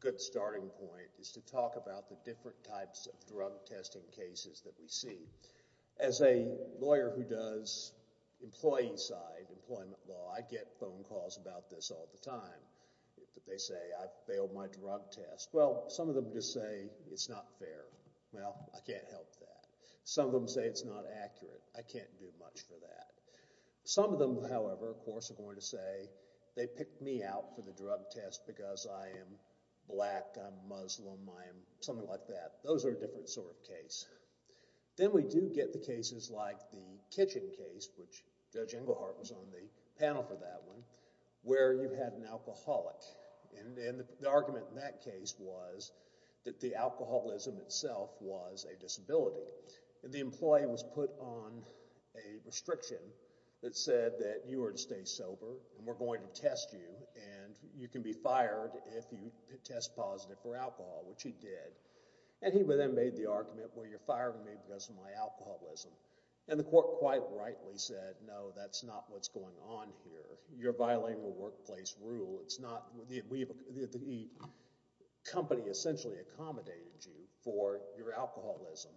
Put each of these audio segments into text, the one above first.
Good starting point is to talk about the different types of drug testing cases that we see. As a lawyer who does employee side employment law, I get phone calls about this all the time. They say I failed my drug test. Well, some of them just say it's not fair. Well, I can't help that. Some of them say it's not accurate. I can't do much for that. Some of them, however, of course, are going to say they picked me out for the drug test because I am black, I'm Muslim, I am something like that. Those are a different sort of case. Then we do get the cases like the kitchen case, which Judge Englehart was on the panel for that one, where you had an alcoholic. And the argument in that case was that the alcoholism itself was a disability. And the employee was put on a restriction that said that you were to test you, and you can be fired if you test positive for alcohol, which he did. And he then made the argument, well, you're firing me because of my alcoholism. And the court quite rightly said, no, that's not what's going on here. Your bilingual workplace rule, it's not, the company essentially accommodated you for your alcoholism,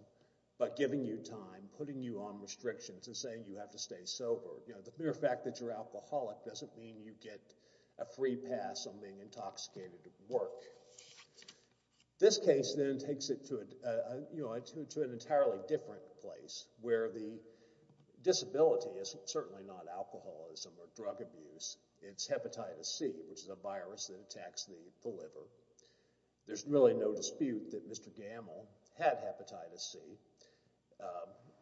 but giving you time, putting you on restrictions, and saying you have to stay sober. You know, the mere fact that you're going to get a free pass on being intoxicated at work. This case then takes it to an entirely different place, where the disability is certainly not alcoholism or drug abuse. It's hepatitis C, which is a virus that attacks the liver. There's really no dispute that Mr. Gamble had hepatitis C.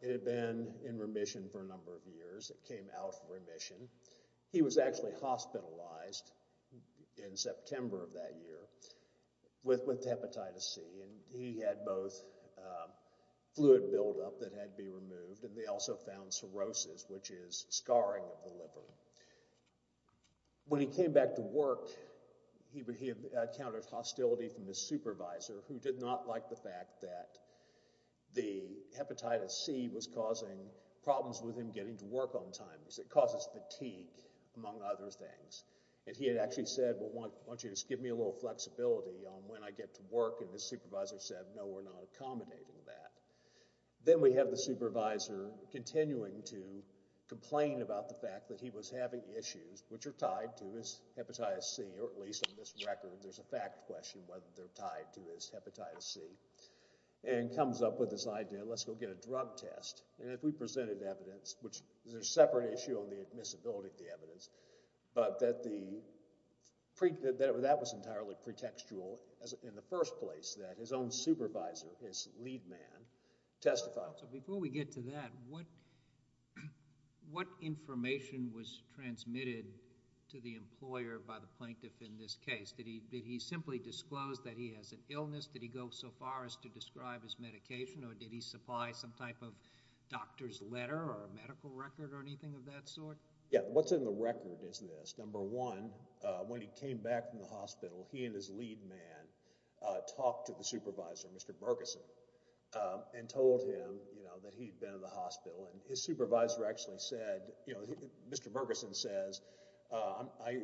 It had been in remission for a number of years. It came out of remission. He was actually hospitalized in September of that year with hepatitis C, and he had both fluid buildup that had to be removed, and they also found cirrhosis, which is scarring of the liver. When he came back to work, he encountered hostility from his supervisor, who did not like the fact that the hepatitis C was causing problems with him getting to things, and he had actually said, well, why don't you just give me a little flexibility on when I get to work, and his supervisor said, no, we're not accommodating that. Then we have the supervisor continuing to complain about the fact that he was having issues, which are tied to his hepatitis C, or at least on this record, there's a fact question whether they're tied to his hepatitis C, and comes up with this idea, let's go get a drug test, and if we presented evidence, which is a separate issue on the admissibility of the evidence, but that was entirely pretextual in the first place, that his own supervisor, his lead man, testified. Before we get to that, what information was transmitted to the employer by the plaintiff in this case? Did he simply disclose that he has an illness? Did he go so far as to describe his medication, or did he supply some type of doctor's letter or medical record or anything of that sort? Yeah, what's in the record is this. Number one, when he came back from the hospital, he and his lead man talked to the supervisor, Mr. Bergeson, and told him that he'd been in the hospital, and his supervisor actually said, you know, Mr. Bergeson says, I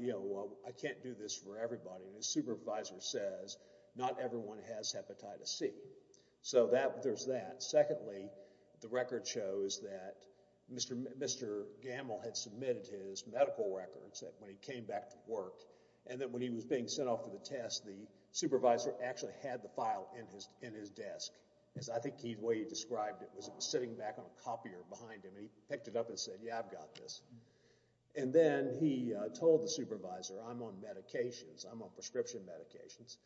can't do this for everybody, and his supervisor says, not everyone has hepatitis C, so there's that. Secondly, the record shows that Mr. Gamble had submitted his medical records when he came back to work, and that when he was being sent off to the test, the supervisor actually had the file in his desk. I think the way he described it was sitting back on a copier behind him. He picked it up and said, yeah, I've got this, and then he told the supervisor, I'm on medications, I'm on prescription medications.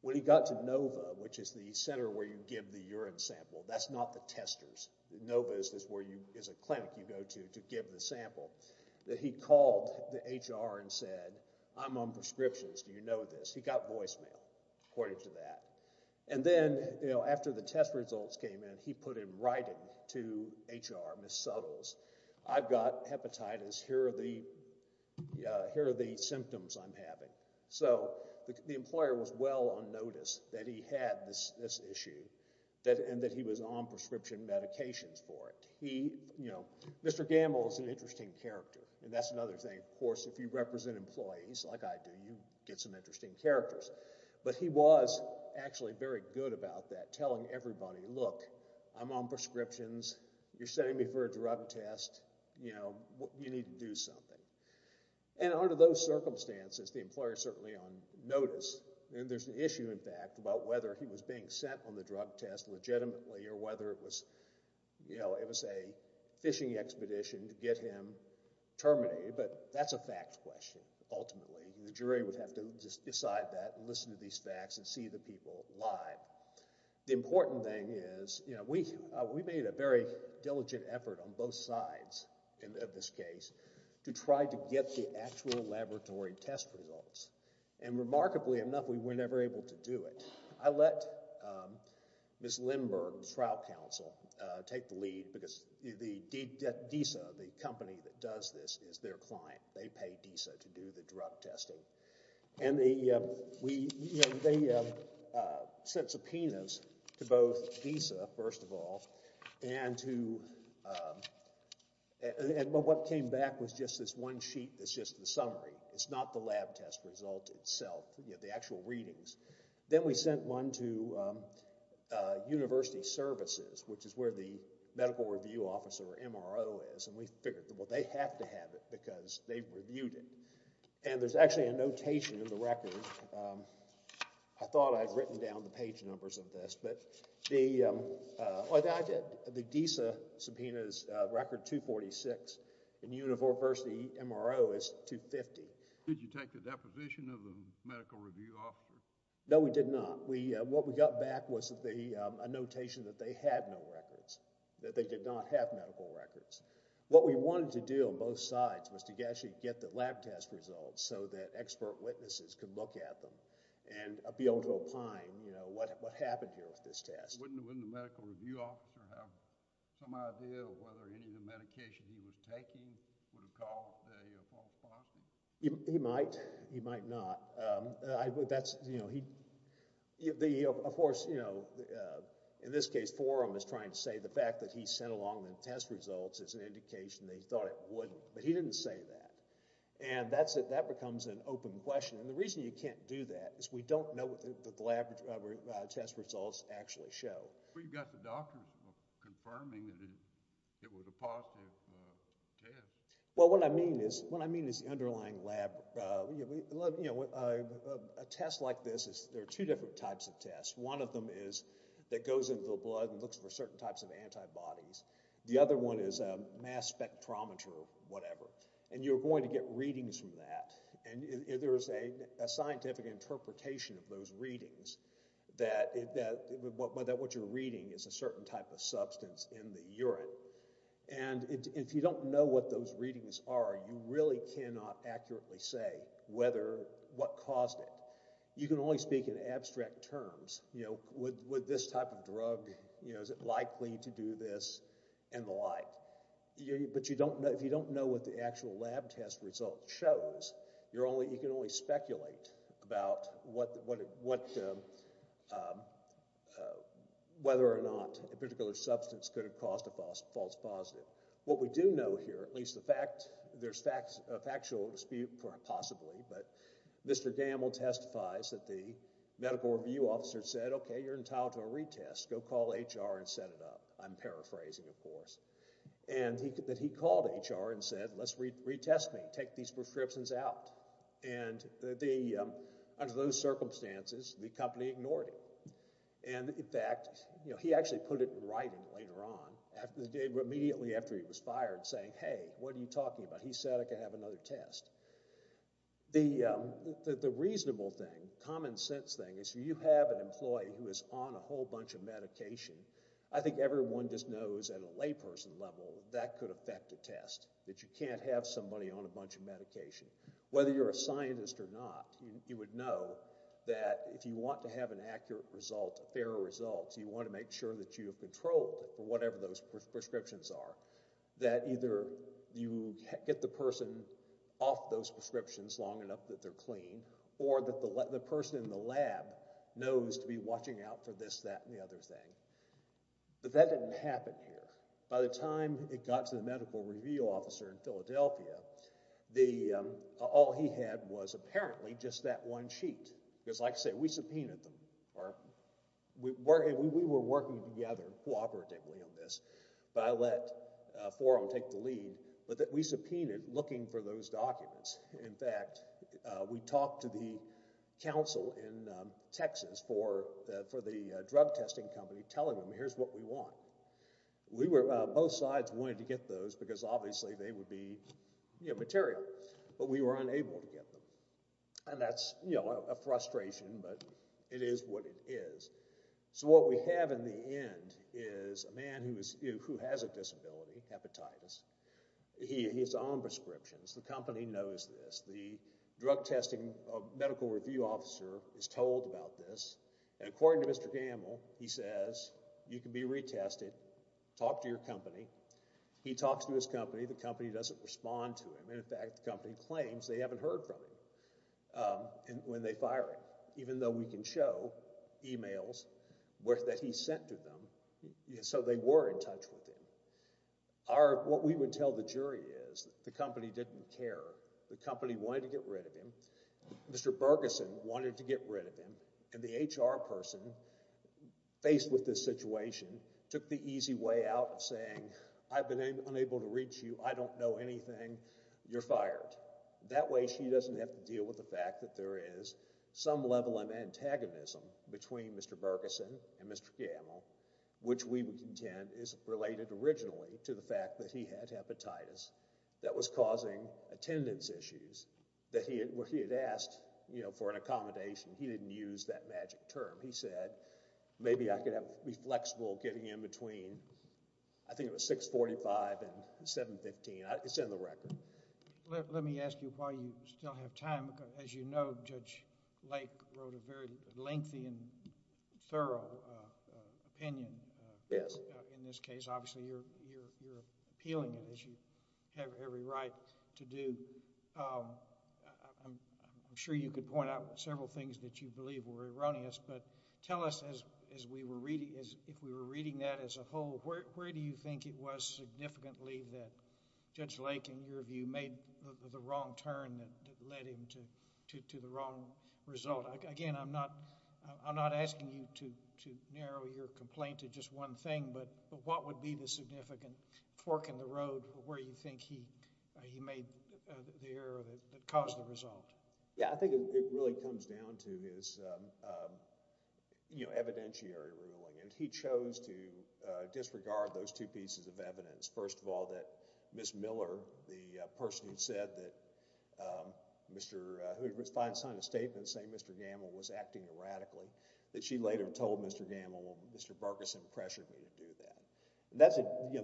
When he got to NOVA, which is the center where you sample, that's not the testers, NOVA is a clinic you go to to give the sample, that he called the HR and said, I'm on prescriptions, do you know this? He got voicemail according to that, and then, you know, after the test results came in, he put in writing to HR, Ms. Suttles, I've got hepatitis, here are the symptoms I'm having. So, the employer was well on notice that he had this issue, and that he was on prescription medications for it. He, you know, Mr. Gamble is an interesting character, and that's another thing, of course, if you represent employees like I do, you get some interesting characters, but he was actually very good about that, telling everybody, look, I'm on prescriptions, you're sending me for a drug test, you know, you need to do something, and under those circumstances, the employer is certainly on notice, and there's an issue in fact, about whether he was being sent on the drug test legitimately, or whether it was, you know, it was a fishing expedition to get him terminated, but that's a fact question, ultimately. The jury would have to just decide that, listen to these facts, and see the people lie. The important thing is, you know, we we made a very diligent effort on both sides, in this case, to try to get the actual laboratory test results, and remarkably enough, we were never able to do it. I let Ms. Lindbergh, trial counsel, take the lead, because DISA, the company that does this, is their client. They pay DISA to do the drug testing, and the, we, you know, they sent subpoenas to both DISA, first of all, and to, and what came back was just this one sheet, that's just the summary, it's not the lab test result itself, you know, the actual readings. Then we sent one to University Services, which is where the medical review officer, or MRO, is, and we figured that, well, they have to have it, because they've reviewed it, and there's actually a notation in the record. I thought I'd written down the page numbers of this, but the, well, I get the DISA subpoenas record 246, and University MRO is 250. Did you take the deposition of the medical review officer? No, we did not. We, what we got back was the, a notation that they had no records, that they did not have medical records. What we wanted to do on both sides was to actually get the lab test results, so that expert witnesses could look at them, and be able to opine, you know, what happened here with this test. Wouldn't the medical review officer have some idea of whether any of the medication he was taking would have caused a false positive? He might, he might not. I would, that's, you know, he, the, of course, you know, in this case, Forum is trying to say the fact that he sent along the test results is an indication they thought it wouldn't, but he didn't say that, and that's it, that becomes an open question, and the reason you can't do that is we don't know that the lab test results actually show. But you've got the doctors confirming that it was a positive test. Well, what I mean is, what I mean is the underlying lab, you know, a test like this is, there are two different types of tests. One of them is that goes into the blood and looks for certain types of antibodies. The other one is a mass spectrometer, whatever, and you're going to get readings from that, and there's a reading, it's a certain type of substance in the urine, and if you don't know what those readings are, you really cannot accurately say whether, what caused it. You can only speak in abstract terms, you know, would this type of drug, you know, is it likely to do this, and the like. But you don't know, if you don't know what the actual lab test result shows, you're only, you can only speculate about what, whether or not a particular substance could have caused a false positive. What we do know here, at least the fact, there's factual dispute, possibly, but Mr. Gamble testifies that the medical review officer said, okay, you're entitled to a retest, go call HR and set it up. I'm paraphrasing, of course. And that he called HR and said, let's retest me, take these prescriptions out. And under those circumstances, the company ignored him. And in fact, you know, he actually put it in writing later on, immediately after he was fired, saying, hey, what are you talking about? He said I could have another test. The reasonable thing, common sense thing, is you have an employee who is on a whole bunch of medication, I think everyone just knows at a layperson level that could affect a test, that you can't have somebody on a test. Whether you're a scientist or not, you would know that if you want to have an accurate result, a fair result, you want to make sure that you have control for whatever those prescriptions are, that either you get the person off those prescriptions long enough that they're clean, or that the person in the lab knows to be watching out for this, that, and the other thing. But that didn't happen here. By the time it got to the medical review officer in Philadelphia, all he had was apparently just that one sheet. Because like I said, we subpoenaed them. We were working together cooperatively on this, but I let Forum take the lead. But we subpoenaed looking for those documents. In fact, we talked to the council in Texas for the drug testing company, telling them here's what we want. We were, both sides wanted to get those because obviously they would be material, but we were unable to get them. And that's a frustration, but it is what it is. So what we have in the end is a man who has a disability, hepatitis. He's on prescriptions. The company knows this. The drug testing medical review officer is told about this, and according to Mr. Gamble, he says, you can be retested. Talk to your company. He talks to his company. The company doesn't respond to him. And in fact, the company claims they haven't heard from him when they fire him, even though we can show emails that he sent to them. So they were in touch with him. What we would tell the jury is the company didn't care. The company wanted to get rid of him. Mr. Bergeson wanted to get rid of him, and the HR person faced with this situation took the easy way out of saying, I've been unable to reach you. I don't know anything. You're fired. That way she doesn't have to deal with the fact that there is some level of antagonism between Mr. Bergeson and Mr. Gamble, which we would contend is related originally to the fact that he had hepatitis that was causing attendance issues that he had asked for an accommodation. He didn't use that magic term. He said, maybe I could be flexible getting in between, I think it was 645 and 715. It's in the record. Let me ask you why you still have time. As you know, Judge Lake wrote a very lengthy and thorough opinion in this case. Obviously, you're appealing it as you have every right to do. I'm sure you could point out several things that you believe were erroneous, but tell us if we were reading that as a whole, where do you think it was significantly that Judge Lake, in your view, made the wrong turn that led him to the wrong result? Again, I'm not asking you to narrow your complaint to just one thing, but what would be the significant fork in the road where you think he made the error that caused the result? Yeah, I think it really comes down to his evidentiary ruling. He chose to disregard those two pieces of evidence. First of all, that Ms. Miller, the person who said that Mr. Gamble was acting erratically, that she later told Mr. Gamble, Mr. Berkison pressured me to do that.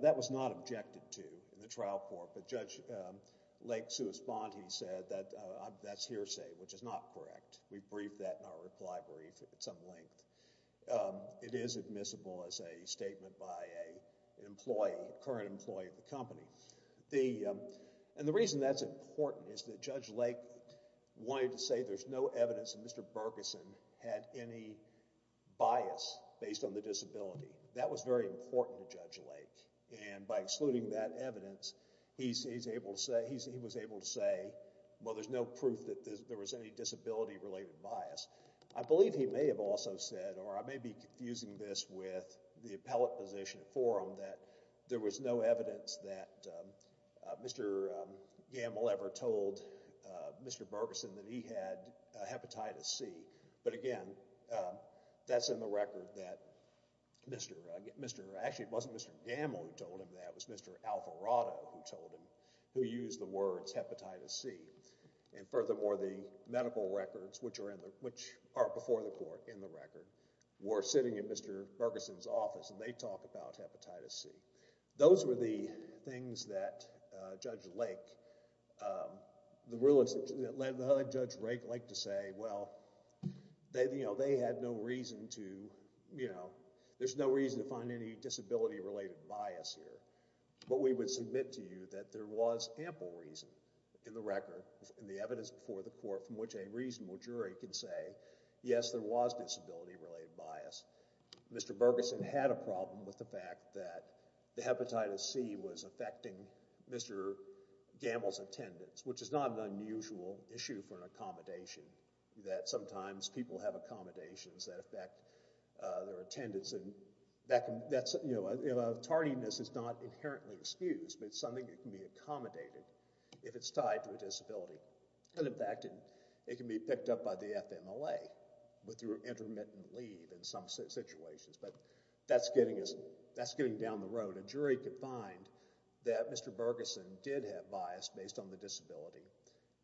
That was not objected to in the trial court, but Judge Lake's response, he said that's hearsay, which is not correct. We briefed that in our reply brief at some length. It is admissible as a statement by a current employee of the company. The reason that's important is that there was no evidence that Mr. Berkison had any bias based on the disability. That was very important to Judge Lake. By excluding that evidence, he was able to say, well, there's no proof that there was any disability-related bias. I believe he may have also said, or I may be confusing this with the appellate position forum, that there was no evidence that Mr. Gamble ever told Mr. Berkison that he had hepatitis C. But again, that's in the record that Mr.... Actually, it wasn't Mr. Gamble who told him that. It was Mr. Alvarado who told him, who used the words hepatitis C. Furthermore, the medical records, which are before the court, in the record, were sitting in Mr. Berkison's office, and they talk about hepatitis C. Those were the things that Judge Lake... the other Judge Lake liked to say, well, they had no reason to... there's no reason to find any disability-related bias here. But we would submit to you that there was ample reason in the record, in the evidence before the court, from which a reasonable jury can say, yes, there was disability-related bias. Mr. Berkison had a problem with the fact that the hepatitis C was affecting Mr. Gamble's attendance, which is not an unusual issue for an accommodation, that sometimes people have accommodations that affect their attendance. Tardiness is not inherently excused, but it's something that can be accommodated if it's tied to a disability. In fact, it can be picked up by the FMLA with your intermittent leave in some situations, but that's getting us... that's getting down the road. A jury could find that Mr. Berkison did have bias based on the disability,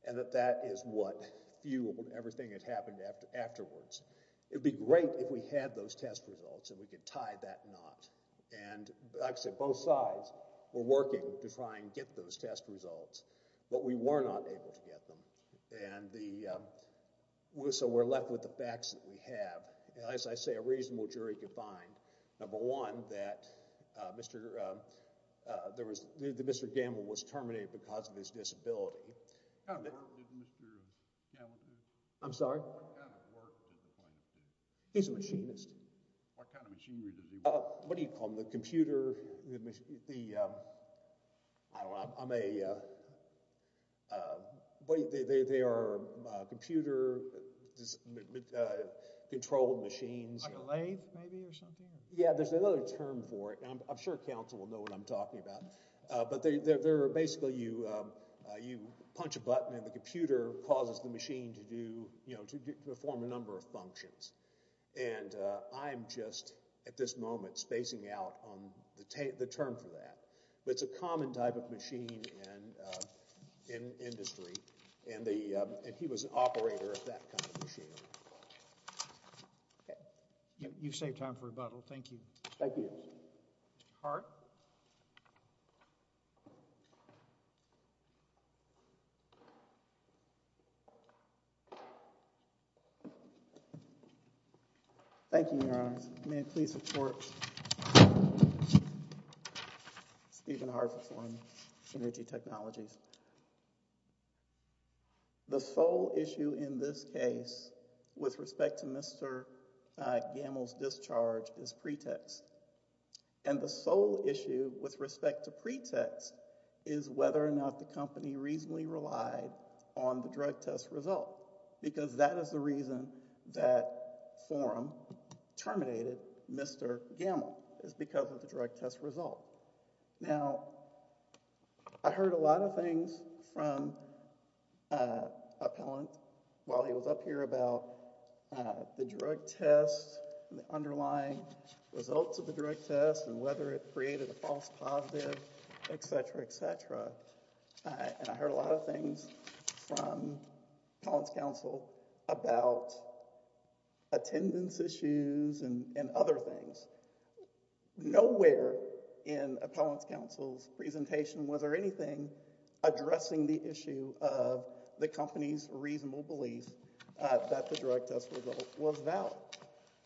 and that that is what fueled everything that happened afterwards. It would be great if we had those test results, and we could tie that knot. And, like I said, both sides were working to try and get those results, but we were not able to get them, and so we're left with the facts that we have. As I say, a reasonable jury could find, number one, that Mr. Gamble was terminated because of his disability. What kind of work did Mr. Gamble do? I'm sorry? What kind of work did the plaintiff do? He's a machinist. What kind of machinery does he work with? What do you call the computer... I'm a... they are computer-controlled machines. Like a lathe, maybe, or something? Yeah, there's another term for it, and I'm sure counsel will know what I'm talking about, but they're basically... you punch a button, and the computer causes the the term for that. But it's a common type of machine in industry, and he was an operator of that kind of machine. Okay, you saved time for rebuttal. Thank you. Thank you. Hart? Thank you, Your Honors. May it please support Stephen Hart for Energy Technologies. The sole issue in this case, with respect to Mr. Gamble's discharge, is pretext. And the sole issue with respect to pretext is whether or not the company reasonably relied on the drug test result, because that is the reason that forum terminated Mr. Gamble, is because of the drug test result. Now, I heard a lot of things from Appellant while he was up here about the drug test and the underlying results of the drug test, and whether it created a false positive, et cetera, et cetera. And I heard a lot of things from Appellant's counsel about attendance issues and other things. Nowhere in Appellant's counsel's presentation was there anything addressing the issue of the company's reasonable belief that the drug test result was valid.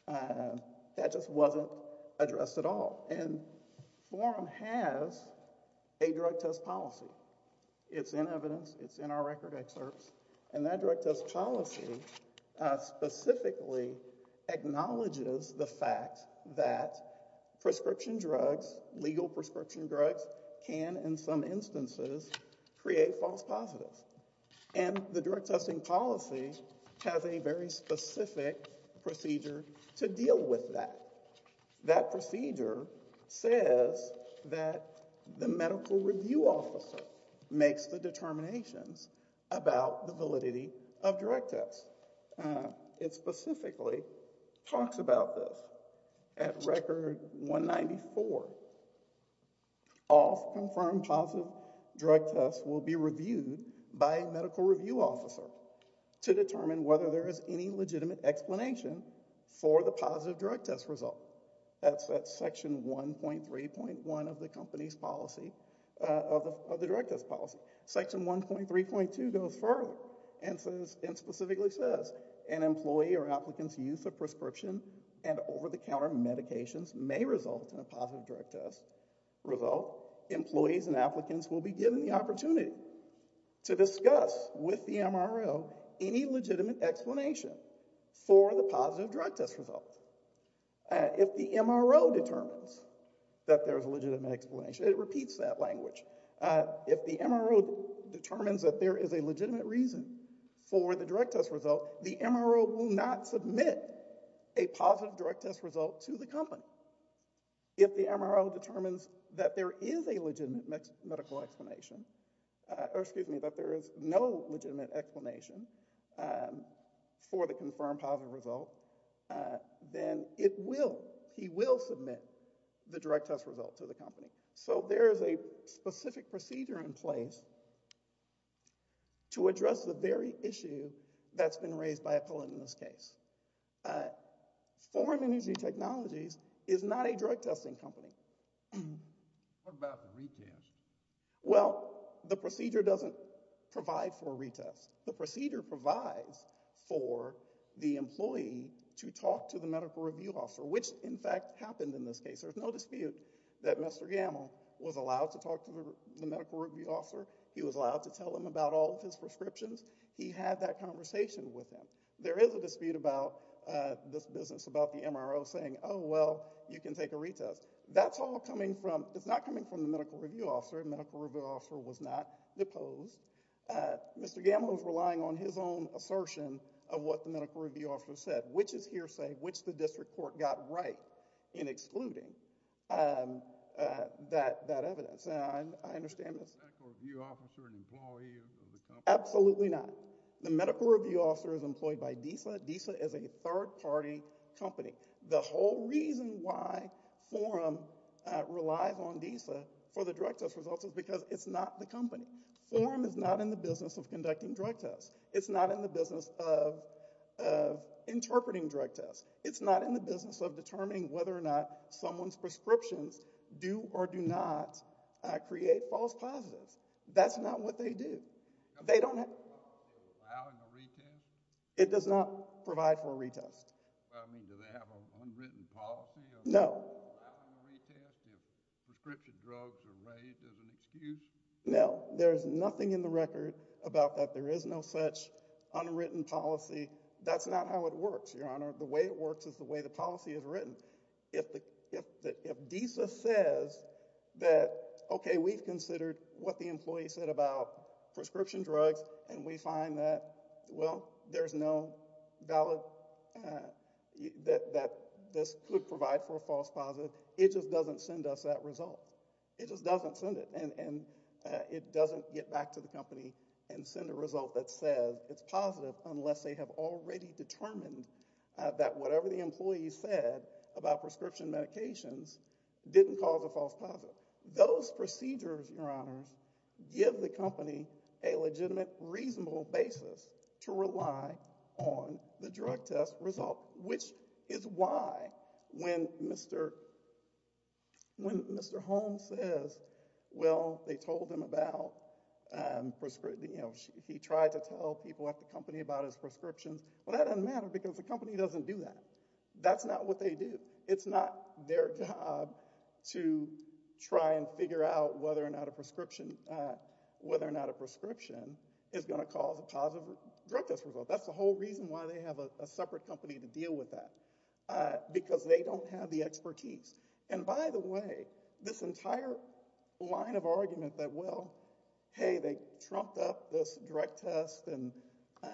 That just wasn't addressed at all. And forum has a drug test policy. It's in evidence. It's in our record excerpts. And that drug test policy specifically acknowledges the fact that prescription drugs, legal prescription drugs, can, in some instances, create false positives. And the drug testing policy has a very specific procedure to deal with that. That procedure says that the medical review officer makes the determinations about the validity of drug tests. It specifically talks about this. At record 194, all confirmed positive drug tests will be reviewed by a medical review officer to determine whether there is any legitimate explanation for the positive drug test result. That's at section 1.3.1 of the company's policy, of the drug test policy. Section 1.3.2 goes further and specifically says, an employee or applicant's use of prescription and over-the-counter medications may result in a positive drug test result. Employees and applicants will be given the opportunity to discuss with the MRO any legitimate explanation for the positive drug test result. If the MRO determines that there's a legitimate explanation, it repeats that language. If the MRO determines that there is a legitimate reason for the drug test result, the MRO will not submit a positive drug test result to the company. If the MRO determines that there is a legitimate medical explanation, or excuse me, that there is no legitimate explanation for the confirmed positive result, then it will, he will submit the drug test result to the company. So there is a specific procedure in place to address the very issue that's been raised by a pilot in this case. Uh, Foreign Energy Technologies is not a drug testing company. What about the retest? Well, the procedure doesn't provide for a retest. The procedure provides for the employee to talk to the medical review officer, which in fact happened in this case. There's no dispute that Mr. Gamel was allowed to talk to the medical review officer. He was allowed to tell him about all of his prescriptions. He had that conversation with him. There is a dispute about, uh, this business about the MRO saying, oh, well, you can take a retest. That's all coming from, it's not coming from the medical review officer. The medical review officer was not deposed. Uh, Mr. Gamel was relying on his own assertion of what the medical review officer said, which is hearsay, which the district court got right in excluding, um, uh, that, that evidence. And I understand this. Is the medical review officer an employee of the company? Absolutely not. The medical review officer is employed by DISA. DISA is a third party company. The whole reason why Forum, uh, relies on DISA for the drug test results is because it's not the company. Forum is not in the business of conducting drug tests. It's not in the business of, of interpreting drug tests. It's not in the business of determining whether or not someone's positive. That's not what they do. They don't have a retest. It does not provide for a retest. No. No, there's nothing in the record about that. There is no such unwritten policy. That's not how it works, Your Honor. The way it works is the way the policy is written. If the, if the, if DISA says that, okay, we've considered what the employee said about prescription drugs and we find that, well, there's no valid, uh, that, that this could provide for a false positive, it just doesn't send us that result. It just doesn't send it. And, and, uh, it doesn't get back to the company and send a result that says it's positive unless they have already determined, uh, that whatever the employee said about prescription medications didn't cause a false positive. Those procedures, Your Honors, give the company a legitimate, reasonable basis to rely on the drug test result, which is why when Mr., when Mr. Holmes says, well, they told him about, um, prescri, you know, he tried to tell people at the company about his prescriptions. Well, that doesn't matter because the company doesn't do that. That's not what they do. It's not their job to try and figure out whether or not a prescription, whether or not a prescription is going to cause a positive drug test result. That's the whole reason why they have a separate company to deal with that, uh, because they don't have the expertise. And by the way, this entire line of argument that, well, hey, they trumped up this drug test and,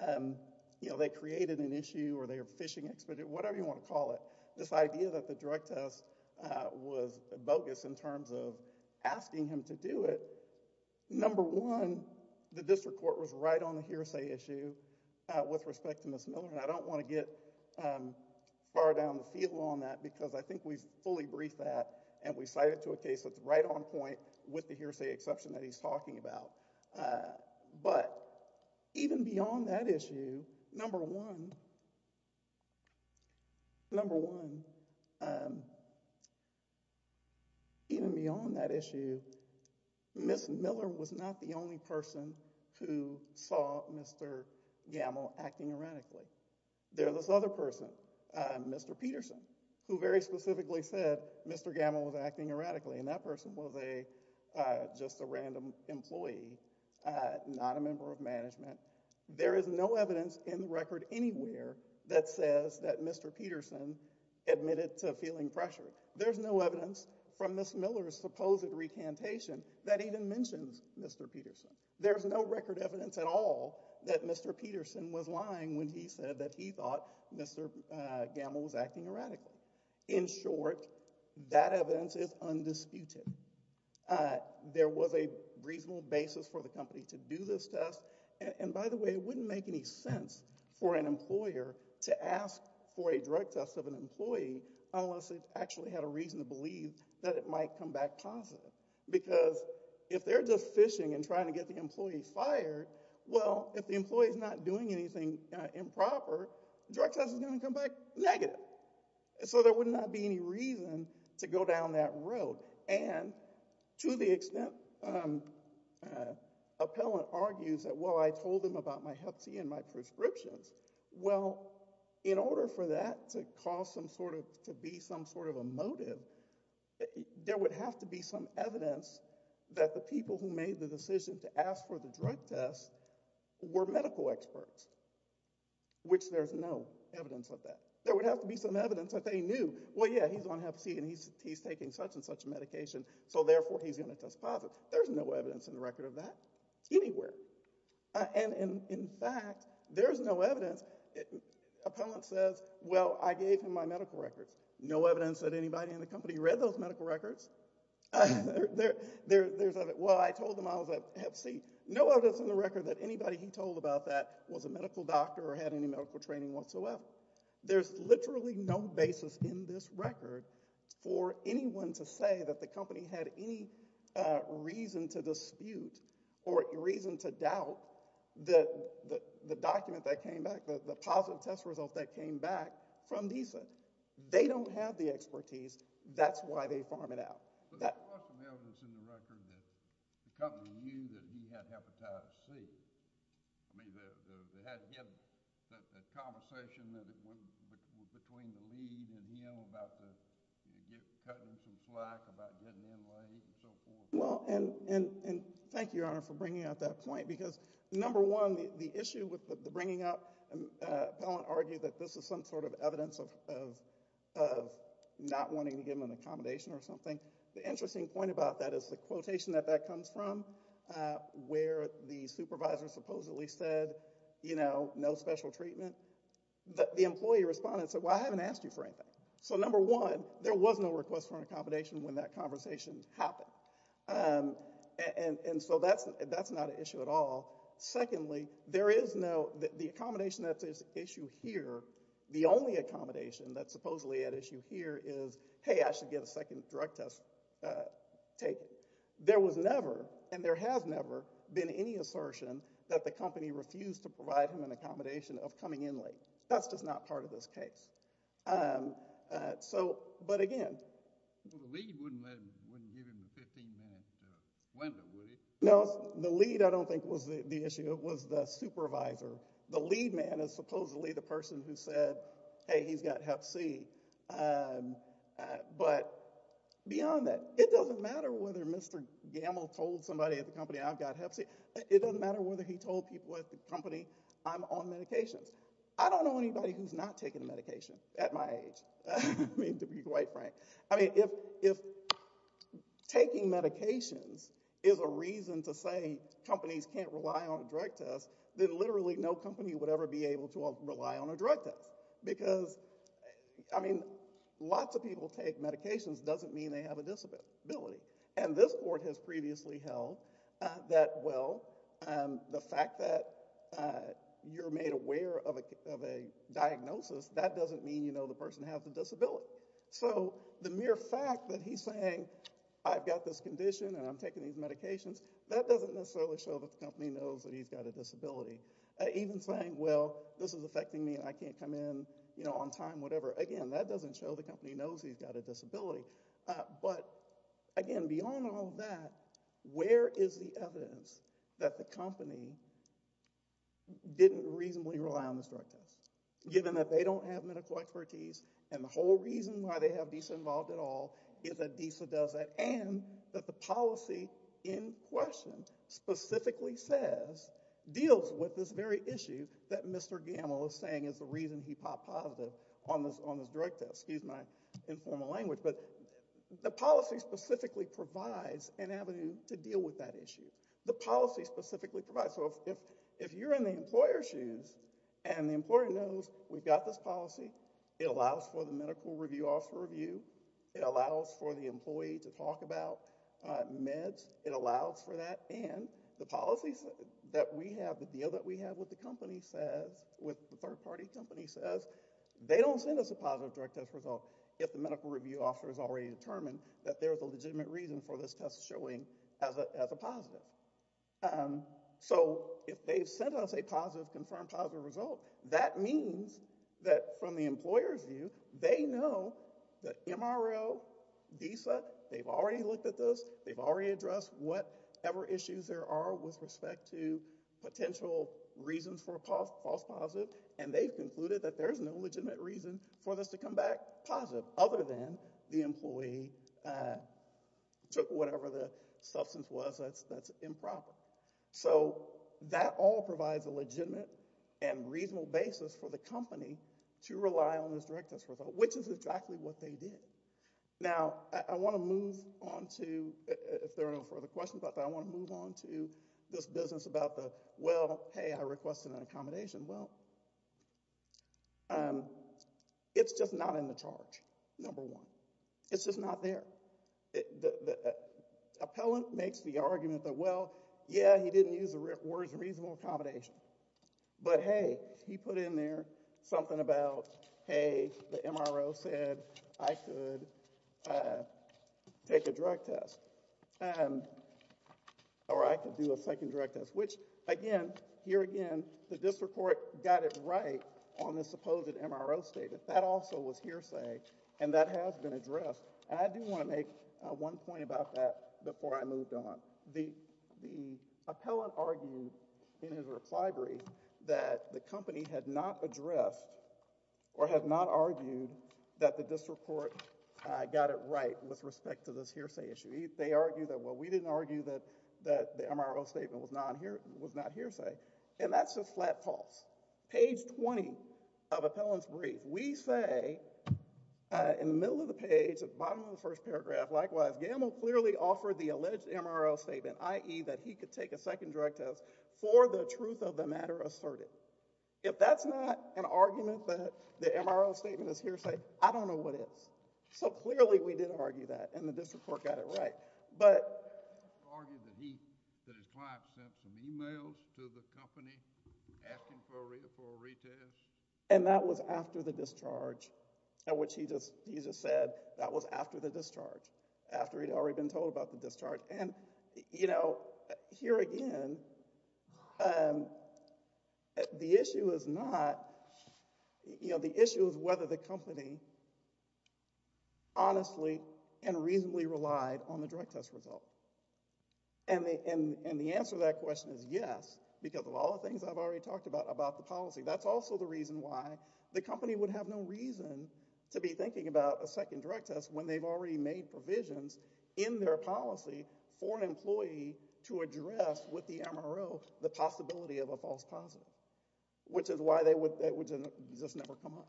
um, you know, they created an issue or they're fishing expedient, whatever you want to call it, this idea that the drug test, uh, was bogus in terms of asking him to do it. Number one, the district court was right on the hearsay issue, uh, with respect to Ms. Miller, and I don't want to get, um, far down the field on that because I think we've fully briefed that and we cited to a case that's right on point with the hearsay exception that he's talking about. Uh, but even beyond that issue, number one, number one, um, even beyond that issue, Ms. Miller was not the only person who saw Mr. Gamble acting erratically. There was this other person, uh, Mr. Peterson, who very specifically said Mr. Gamble was acting erratically, and that employee, uh, not a member of management. There is no evidence in the record anywhere that says that Mr. Peterson admitted to feeling pressured. There's no evidence from Ms. Miller's supposed recantation that even mentions Mr. Peterson. There's no record evidence at all that Mr. Peterson was lying when he said that he thought Mr. Gamble was acting erratically. In short, that evidence is undisputed. Uh, there was a reasonable basis for the company to do this test, and by the way, it wouldn't make any sense for an employer to ask for a drug test of an employee unless they actually had a reason to believe that it might come back positive because if they're just fishing and trying to get the employee fired, well, if the employee is not doing anything improper, the drug test is going to come back negative. So there would not be any reason to go down that road, and to the extent, um, uh, appellant argues that, well, I told them about my hep C and my prescriptions, well, in order for that to cause some sort of, to be some sort of a motive, there would have to be some evidence that the people who made the decision to ask for the drug test were medical experts, which there's no evidence of that. There would have to be some evidence that they knew, well, yeah, he's on hep C and he's, he's taking such and such medication, so therefore he's going to test positive. There's no evidence in the record of that anywhere, and in, in fact, there's no evidence. Appellant says, well, I gave him my medical records. No evidence that anybody in the company read those medical records. There, there, there's, well, I told them I was at hep C. No evidence in the record that anybody he told about that was a medical doctor or had any medical training whatsoever. There's literally no basis in this record for anyone to say that the company had any, uh, reason to dispute or reason to doubt the, the, the document that came back, the positive test results that came back from DSA. They don't have the expertise. That's why they farm it out. But there's a lot of evidence in the record that the company knew that he had hepatitis C. I mean, the, the, they had, he had that, that conversation that it was between the lead and him about the, you know, cutting some slack about getting in late and so forth. Well, and, and, and thank you, Your Honor, for bringing out that point because number one, the issue with the bringing up, uh, don't argue that this is some sort of evidence of, of, of not wanting to give them an accommodation or something. The interesting point about that is the quotation that that comes from, uh, where the supervisor supposedly said, you know, no special treatment, but the employee responded and said, well, I haven't asked you for anything. So number one, there was no request for an accommodation when that conversation happened. Um, and, and so that's, that's not an issue at all. Secondly, there is no, the accommodation that's at issue here, the only accommodation that's supposedly at issue here is, hey, I should get a second drug test, uh, take. There was never, and there has never been any assertion that the company refused to provide him an accommodation of coming in late. That's just not part of this case. Um, uh, so, but again. The lead wouldn't let him, wouldn't give him the 15 minute window, would he? No, the lead, I don't think was the issue. It was the supervisor. The lead man is supposedly the person who said, hey, he's got hep C. Um, uh, but beyond that, it doesn't matter whether Mr. Gamble told somebody at the company, I've got hep C. It doesn't matter whether he told people at the company, I'm on medications. I don't know anybody who's not taking the medication at my age. I mean, to be quite frank, I mean, if, if taking medications is a reason to say companies can't rely on a drug test, then literally no company would ever be able to rely on a drug test because, I mean, lots of people take medications doesn't mean they have a disability. And this court has previously held, uh, that, well, um, the fact that, uh, you're made aware of a, of a diagnosis that doesn't mean, you know, the person has a disability. So the mere fact that he's saying, I've got this condition and I'm taking these medications, that doesn't necessarily show that the company knows that he's got a disability. Even saying, well, this is affecting me and I can't come in, you know, on time, whatever. Again, that doesn't show the company knows he's got a disability. Uh, but again, beyond all that, where is the evidence that the company didn't reasonably rely on this drug test, given that they don't have medical expertise and the whole reason why they have DISA involved at all is that DISA does that and that the policy in question specifically says, deals with this very issue that Mr. Gamble is saying is the reason he popped positive on this, on this drug test. Excuse my informal language, but the policy specifically provides an avenue to deal with that issue. The policy specifically provides. So if, if, if you're in the employer's shoes and the employer knows we've got this policy, it allows for the medical review officer review. It allows for the employee to talk about, uh, meds. It allows for that and the policies that we have, the deal that we have with the company says, with the third party company says, they don't send us a positive drug test result. If the medical review officer has already determined that there's a legitimate reason for this test showing as a, as a positive. Um, so if they've sent us a positive confirmed positive result, that means that from the employer's view, they know that MRO DISA, they've already looked at this. They've already addressed whatever issues there are with respect to potential reasons for a false positive. And they've concluded that there's no legitimate reason for this to come back positive other than the employee, uh, took whatever the substance was that's, that's improper. So that all provides a legitimate and reasonable basis for the company to rely on this drug test result, which is exactly what they did. Now, I want to move on to, if there are no further questions about that, I want to move on to this business about the, well, hey, I requested an accommodation. Well, um, it's just not in the charge, number one. It's just not there. The, the, the appellant makes the argument that, well, yeah, he didn't use the words reasonable accommodation, but hey, he put in there something about, hey, the MRO said I could, uh, take a drug test, um, or I could do a second drug test, which again, here again, the district court got it right on the supposed MRO statement. That also was hearsay, and that has been addressed. And I do want to make one point about that before I moved on. The, the appellant argued in his slide brief that the company had not addressed or had not argued that the district court, uh, got it right with respect to this hearsay issue. They argue that, well, we didn't argue that, that the MRO statement was not hearsay, and that's just flat false. Page 20 of appellant's brief, we say, uh, in the middle of the page, at the bottom of the first paragraph, likewise, Gamow clearly offered the alleged MRO statement, i.e., that he could take a second drug test for the truth of the matter asserted. If that's not an argument that the MRO statement is hearsay, I don't know what is. So clearly, we did argue that, and the district court got it right, but. Argued that he, that his client sent some emails to the company asking for a, for a retest. And that was after the discharge, at which he just, he just said that was after the discharge, after he'd already been told about the discharge. And, you know, here again, um, the issue is not, you know, the issue is whether the company honestly and reasonably relied on the drug test result. And the, and, and the answer to that question is yes, because of all the things I've already talked about, about the policy. That's also the reason why the company would have no reason to be thinking about a second drug test when they've already made provisions in their policy for an employee to address with the MRO the possibility of a false positive, which is why they would, that would just never come up.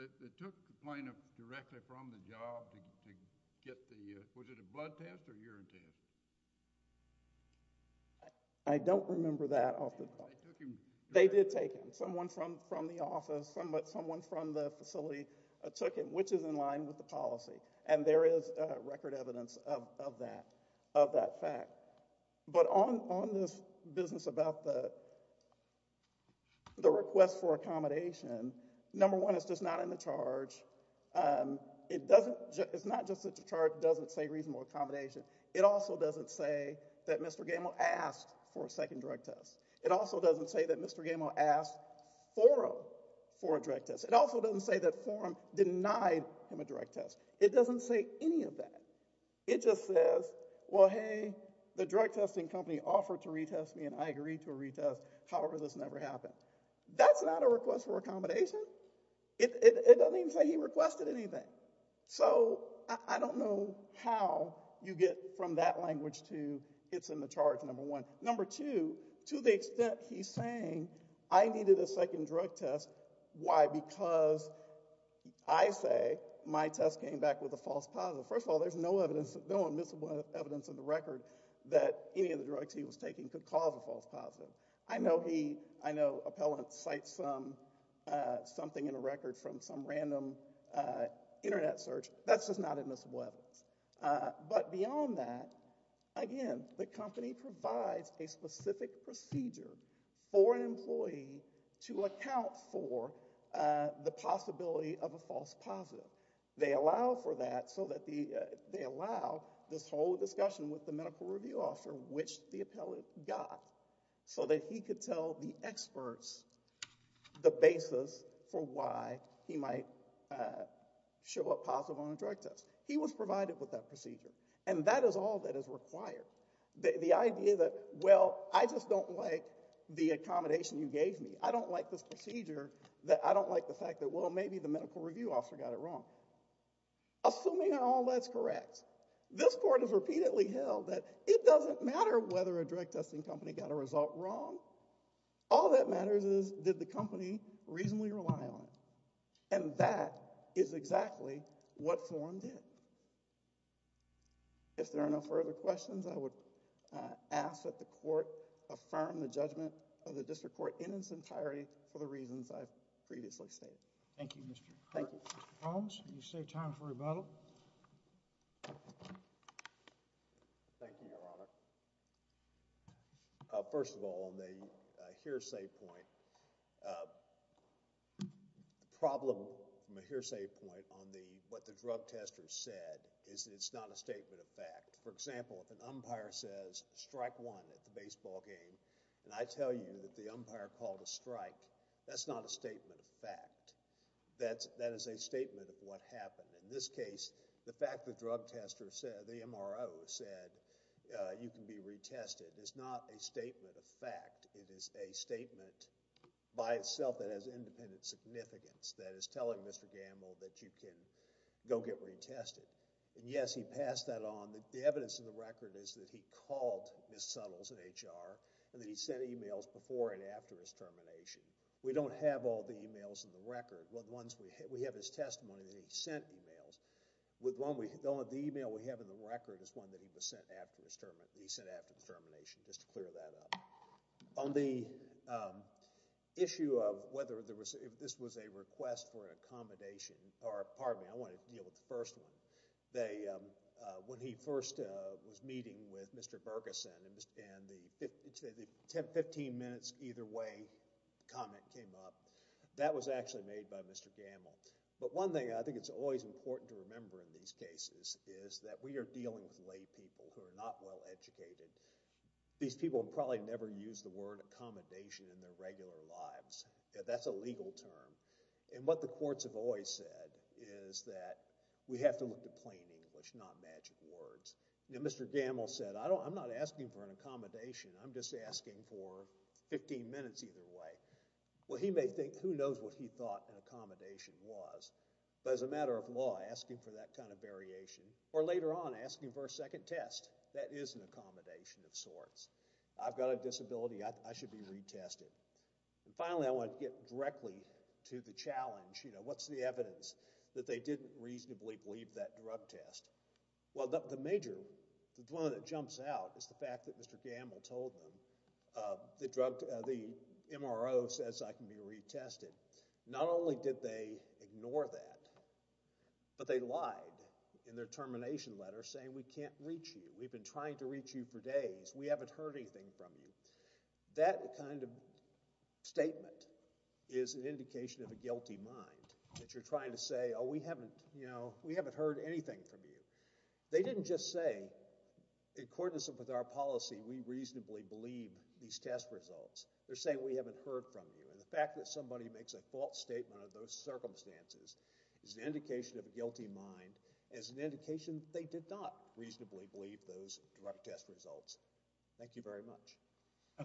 They took the client directly from the job to get the, was it a blood test or urine test? I don't remember that off the top of my head. They took him. They did take him. Someone from, from the office, someone from the facility took him, which is in line with the policy. And there is a record evidence of, of that, of that fact. But on, on this business about the, the request for accommodation, number one, it's just not in the charge. Um, it doesn't, it's not just that the charge doesn't say reasonable accommodation. It also doesn't say that Mr. Gamow asked for a second drug test. It also doesn't say that Mr. Gamow asked Foro for a drug test. It also doesn't say that Forum denied him a drug test. It doesn't say any of that. It just says, well, hey, the drug testing company offered to retest me and I agreed to a retest. However, this never happened. That's not a request for accommodation. It, it doesn't even say he requested anything. So I don't know how you get from that language to it's in the saying, I needed a second drug test. Why? Because I say my test came back with a false positive. First of all, there's no evidence, no admissible evidence in the record that any of the drugs he was taking could cause a false positive. I know he, I know appellants cite some, uh, something in a record from some random, uh, internet search. That's just not admissible evidence. Uh, but beyond that, again, the company provides a specific procedure for an employee to account for, uh, the possibility of a false positive. They allow for that so that the, uh, they allow this whole discussion with the medical review officer, which the appellate got so that he could tell the experts the basis for why he might, uh, show up positive on a drug test. He was provided with that procedure. And that is all that is required. The, the idea that, well, I just don't like the accommodation you gave me. I don't like this procedure that I don't like the fact that, well, maybe the medical review officer got it wrong. Assuming all that's correct, this court has repeatedly held that it doesn't matter whether a drug testing company got a result wrong. All that If there are no further questions, I would, uh, ask that the court affirm the judgment of the district court in its entirety for the reasons I've previously stated. Thank you, Mr. Holmes. Can you save time for rebuttal? Thank you, Your Honor. Uh, first of all, on the hearsay point, uh, the problem from a hearsay point on the, what the drug testers said is that it's not a statement of fact. For example, if an umpire says strike one at the baseball game, and I tell you that the umpire called a strike, that's not a statement of fact. That's, that is a statement of what happened. In this case, the fact the drug tester said, the MRO said, uh, you can be retested is not a statement of fact. It is a statement by itself that has independent significance. That is telling Mr. Gamble that you can go get retested. And yes, he passed that on. The evidence in the record is that he called Ms. Suttles in HR, and that he sent emails before and after his termination. We don't have all the emails in the record. The ones we have, we have his testimony that he sent emails. With one we, the only email we have in the record is one that he was sent after his termination, just to clear that up. On the, um, issue of whether there was, if this was a request for an accommodation, or pardon me, I want to deal with the first one. They, um, uh, when he first, uh, was meeting with Mr. Bergeson, and the ten, fifteen minutes either way, the comment came up, that was actually made by Mr. Gamble. But one thing I think it's always important to remember in these cases is that we are dealing with laypeople who are not well educated. These people have probably never used the word accommodation in their regular lives. That's a legal term. And what the courts have always said is that we have to look to plain English, not magic words. Now, Mr. Gamble said, I don't, I'm not asking for an accommodation. I'm just asking for fifteen minutes either way. Well, he may think, who knows what he thought an or later on asking for a second test. That is an accommodation of sorts. I've got a disability, I, I should be retested. And finally, I want to get directly to the challenge. You know, what's the evidence that they didn't reasonably believe that drug test? Well, the, the major, the one that jumps out is the fact that Mr. Gamble told them, uh, the drug, uh, the MRO says I can be retested. Not only did they ignore that, but they lied in their termination letter saying we can't reach you. We've been trying to reach you for days. We haven't heard anything from you. That kind of statement is an indication of a guilty mind that you're trying to say, oh, we haven't, you know, we haven't heard anything from you. They didn't just say, in accordance with our policy, we reasonably believe these test results. They're saying we haven't heard from you. And the fact that somebody makes a false statement under those circumstances is an indication of a guilty mind. It's an indication they did not reasonably believe those drug test results. Thank you very much.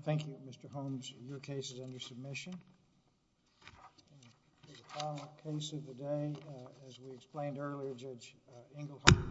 Thank you, Mr. Holmes. Your case is under submission. For the final case of the day, uh, as we explained earlier, Judge, uh, Englehart.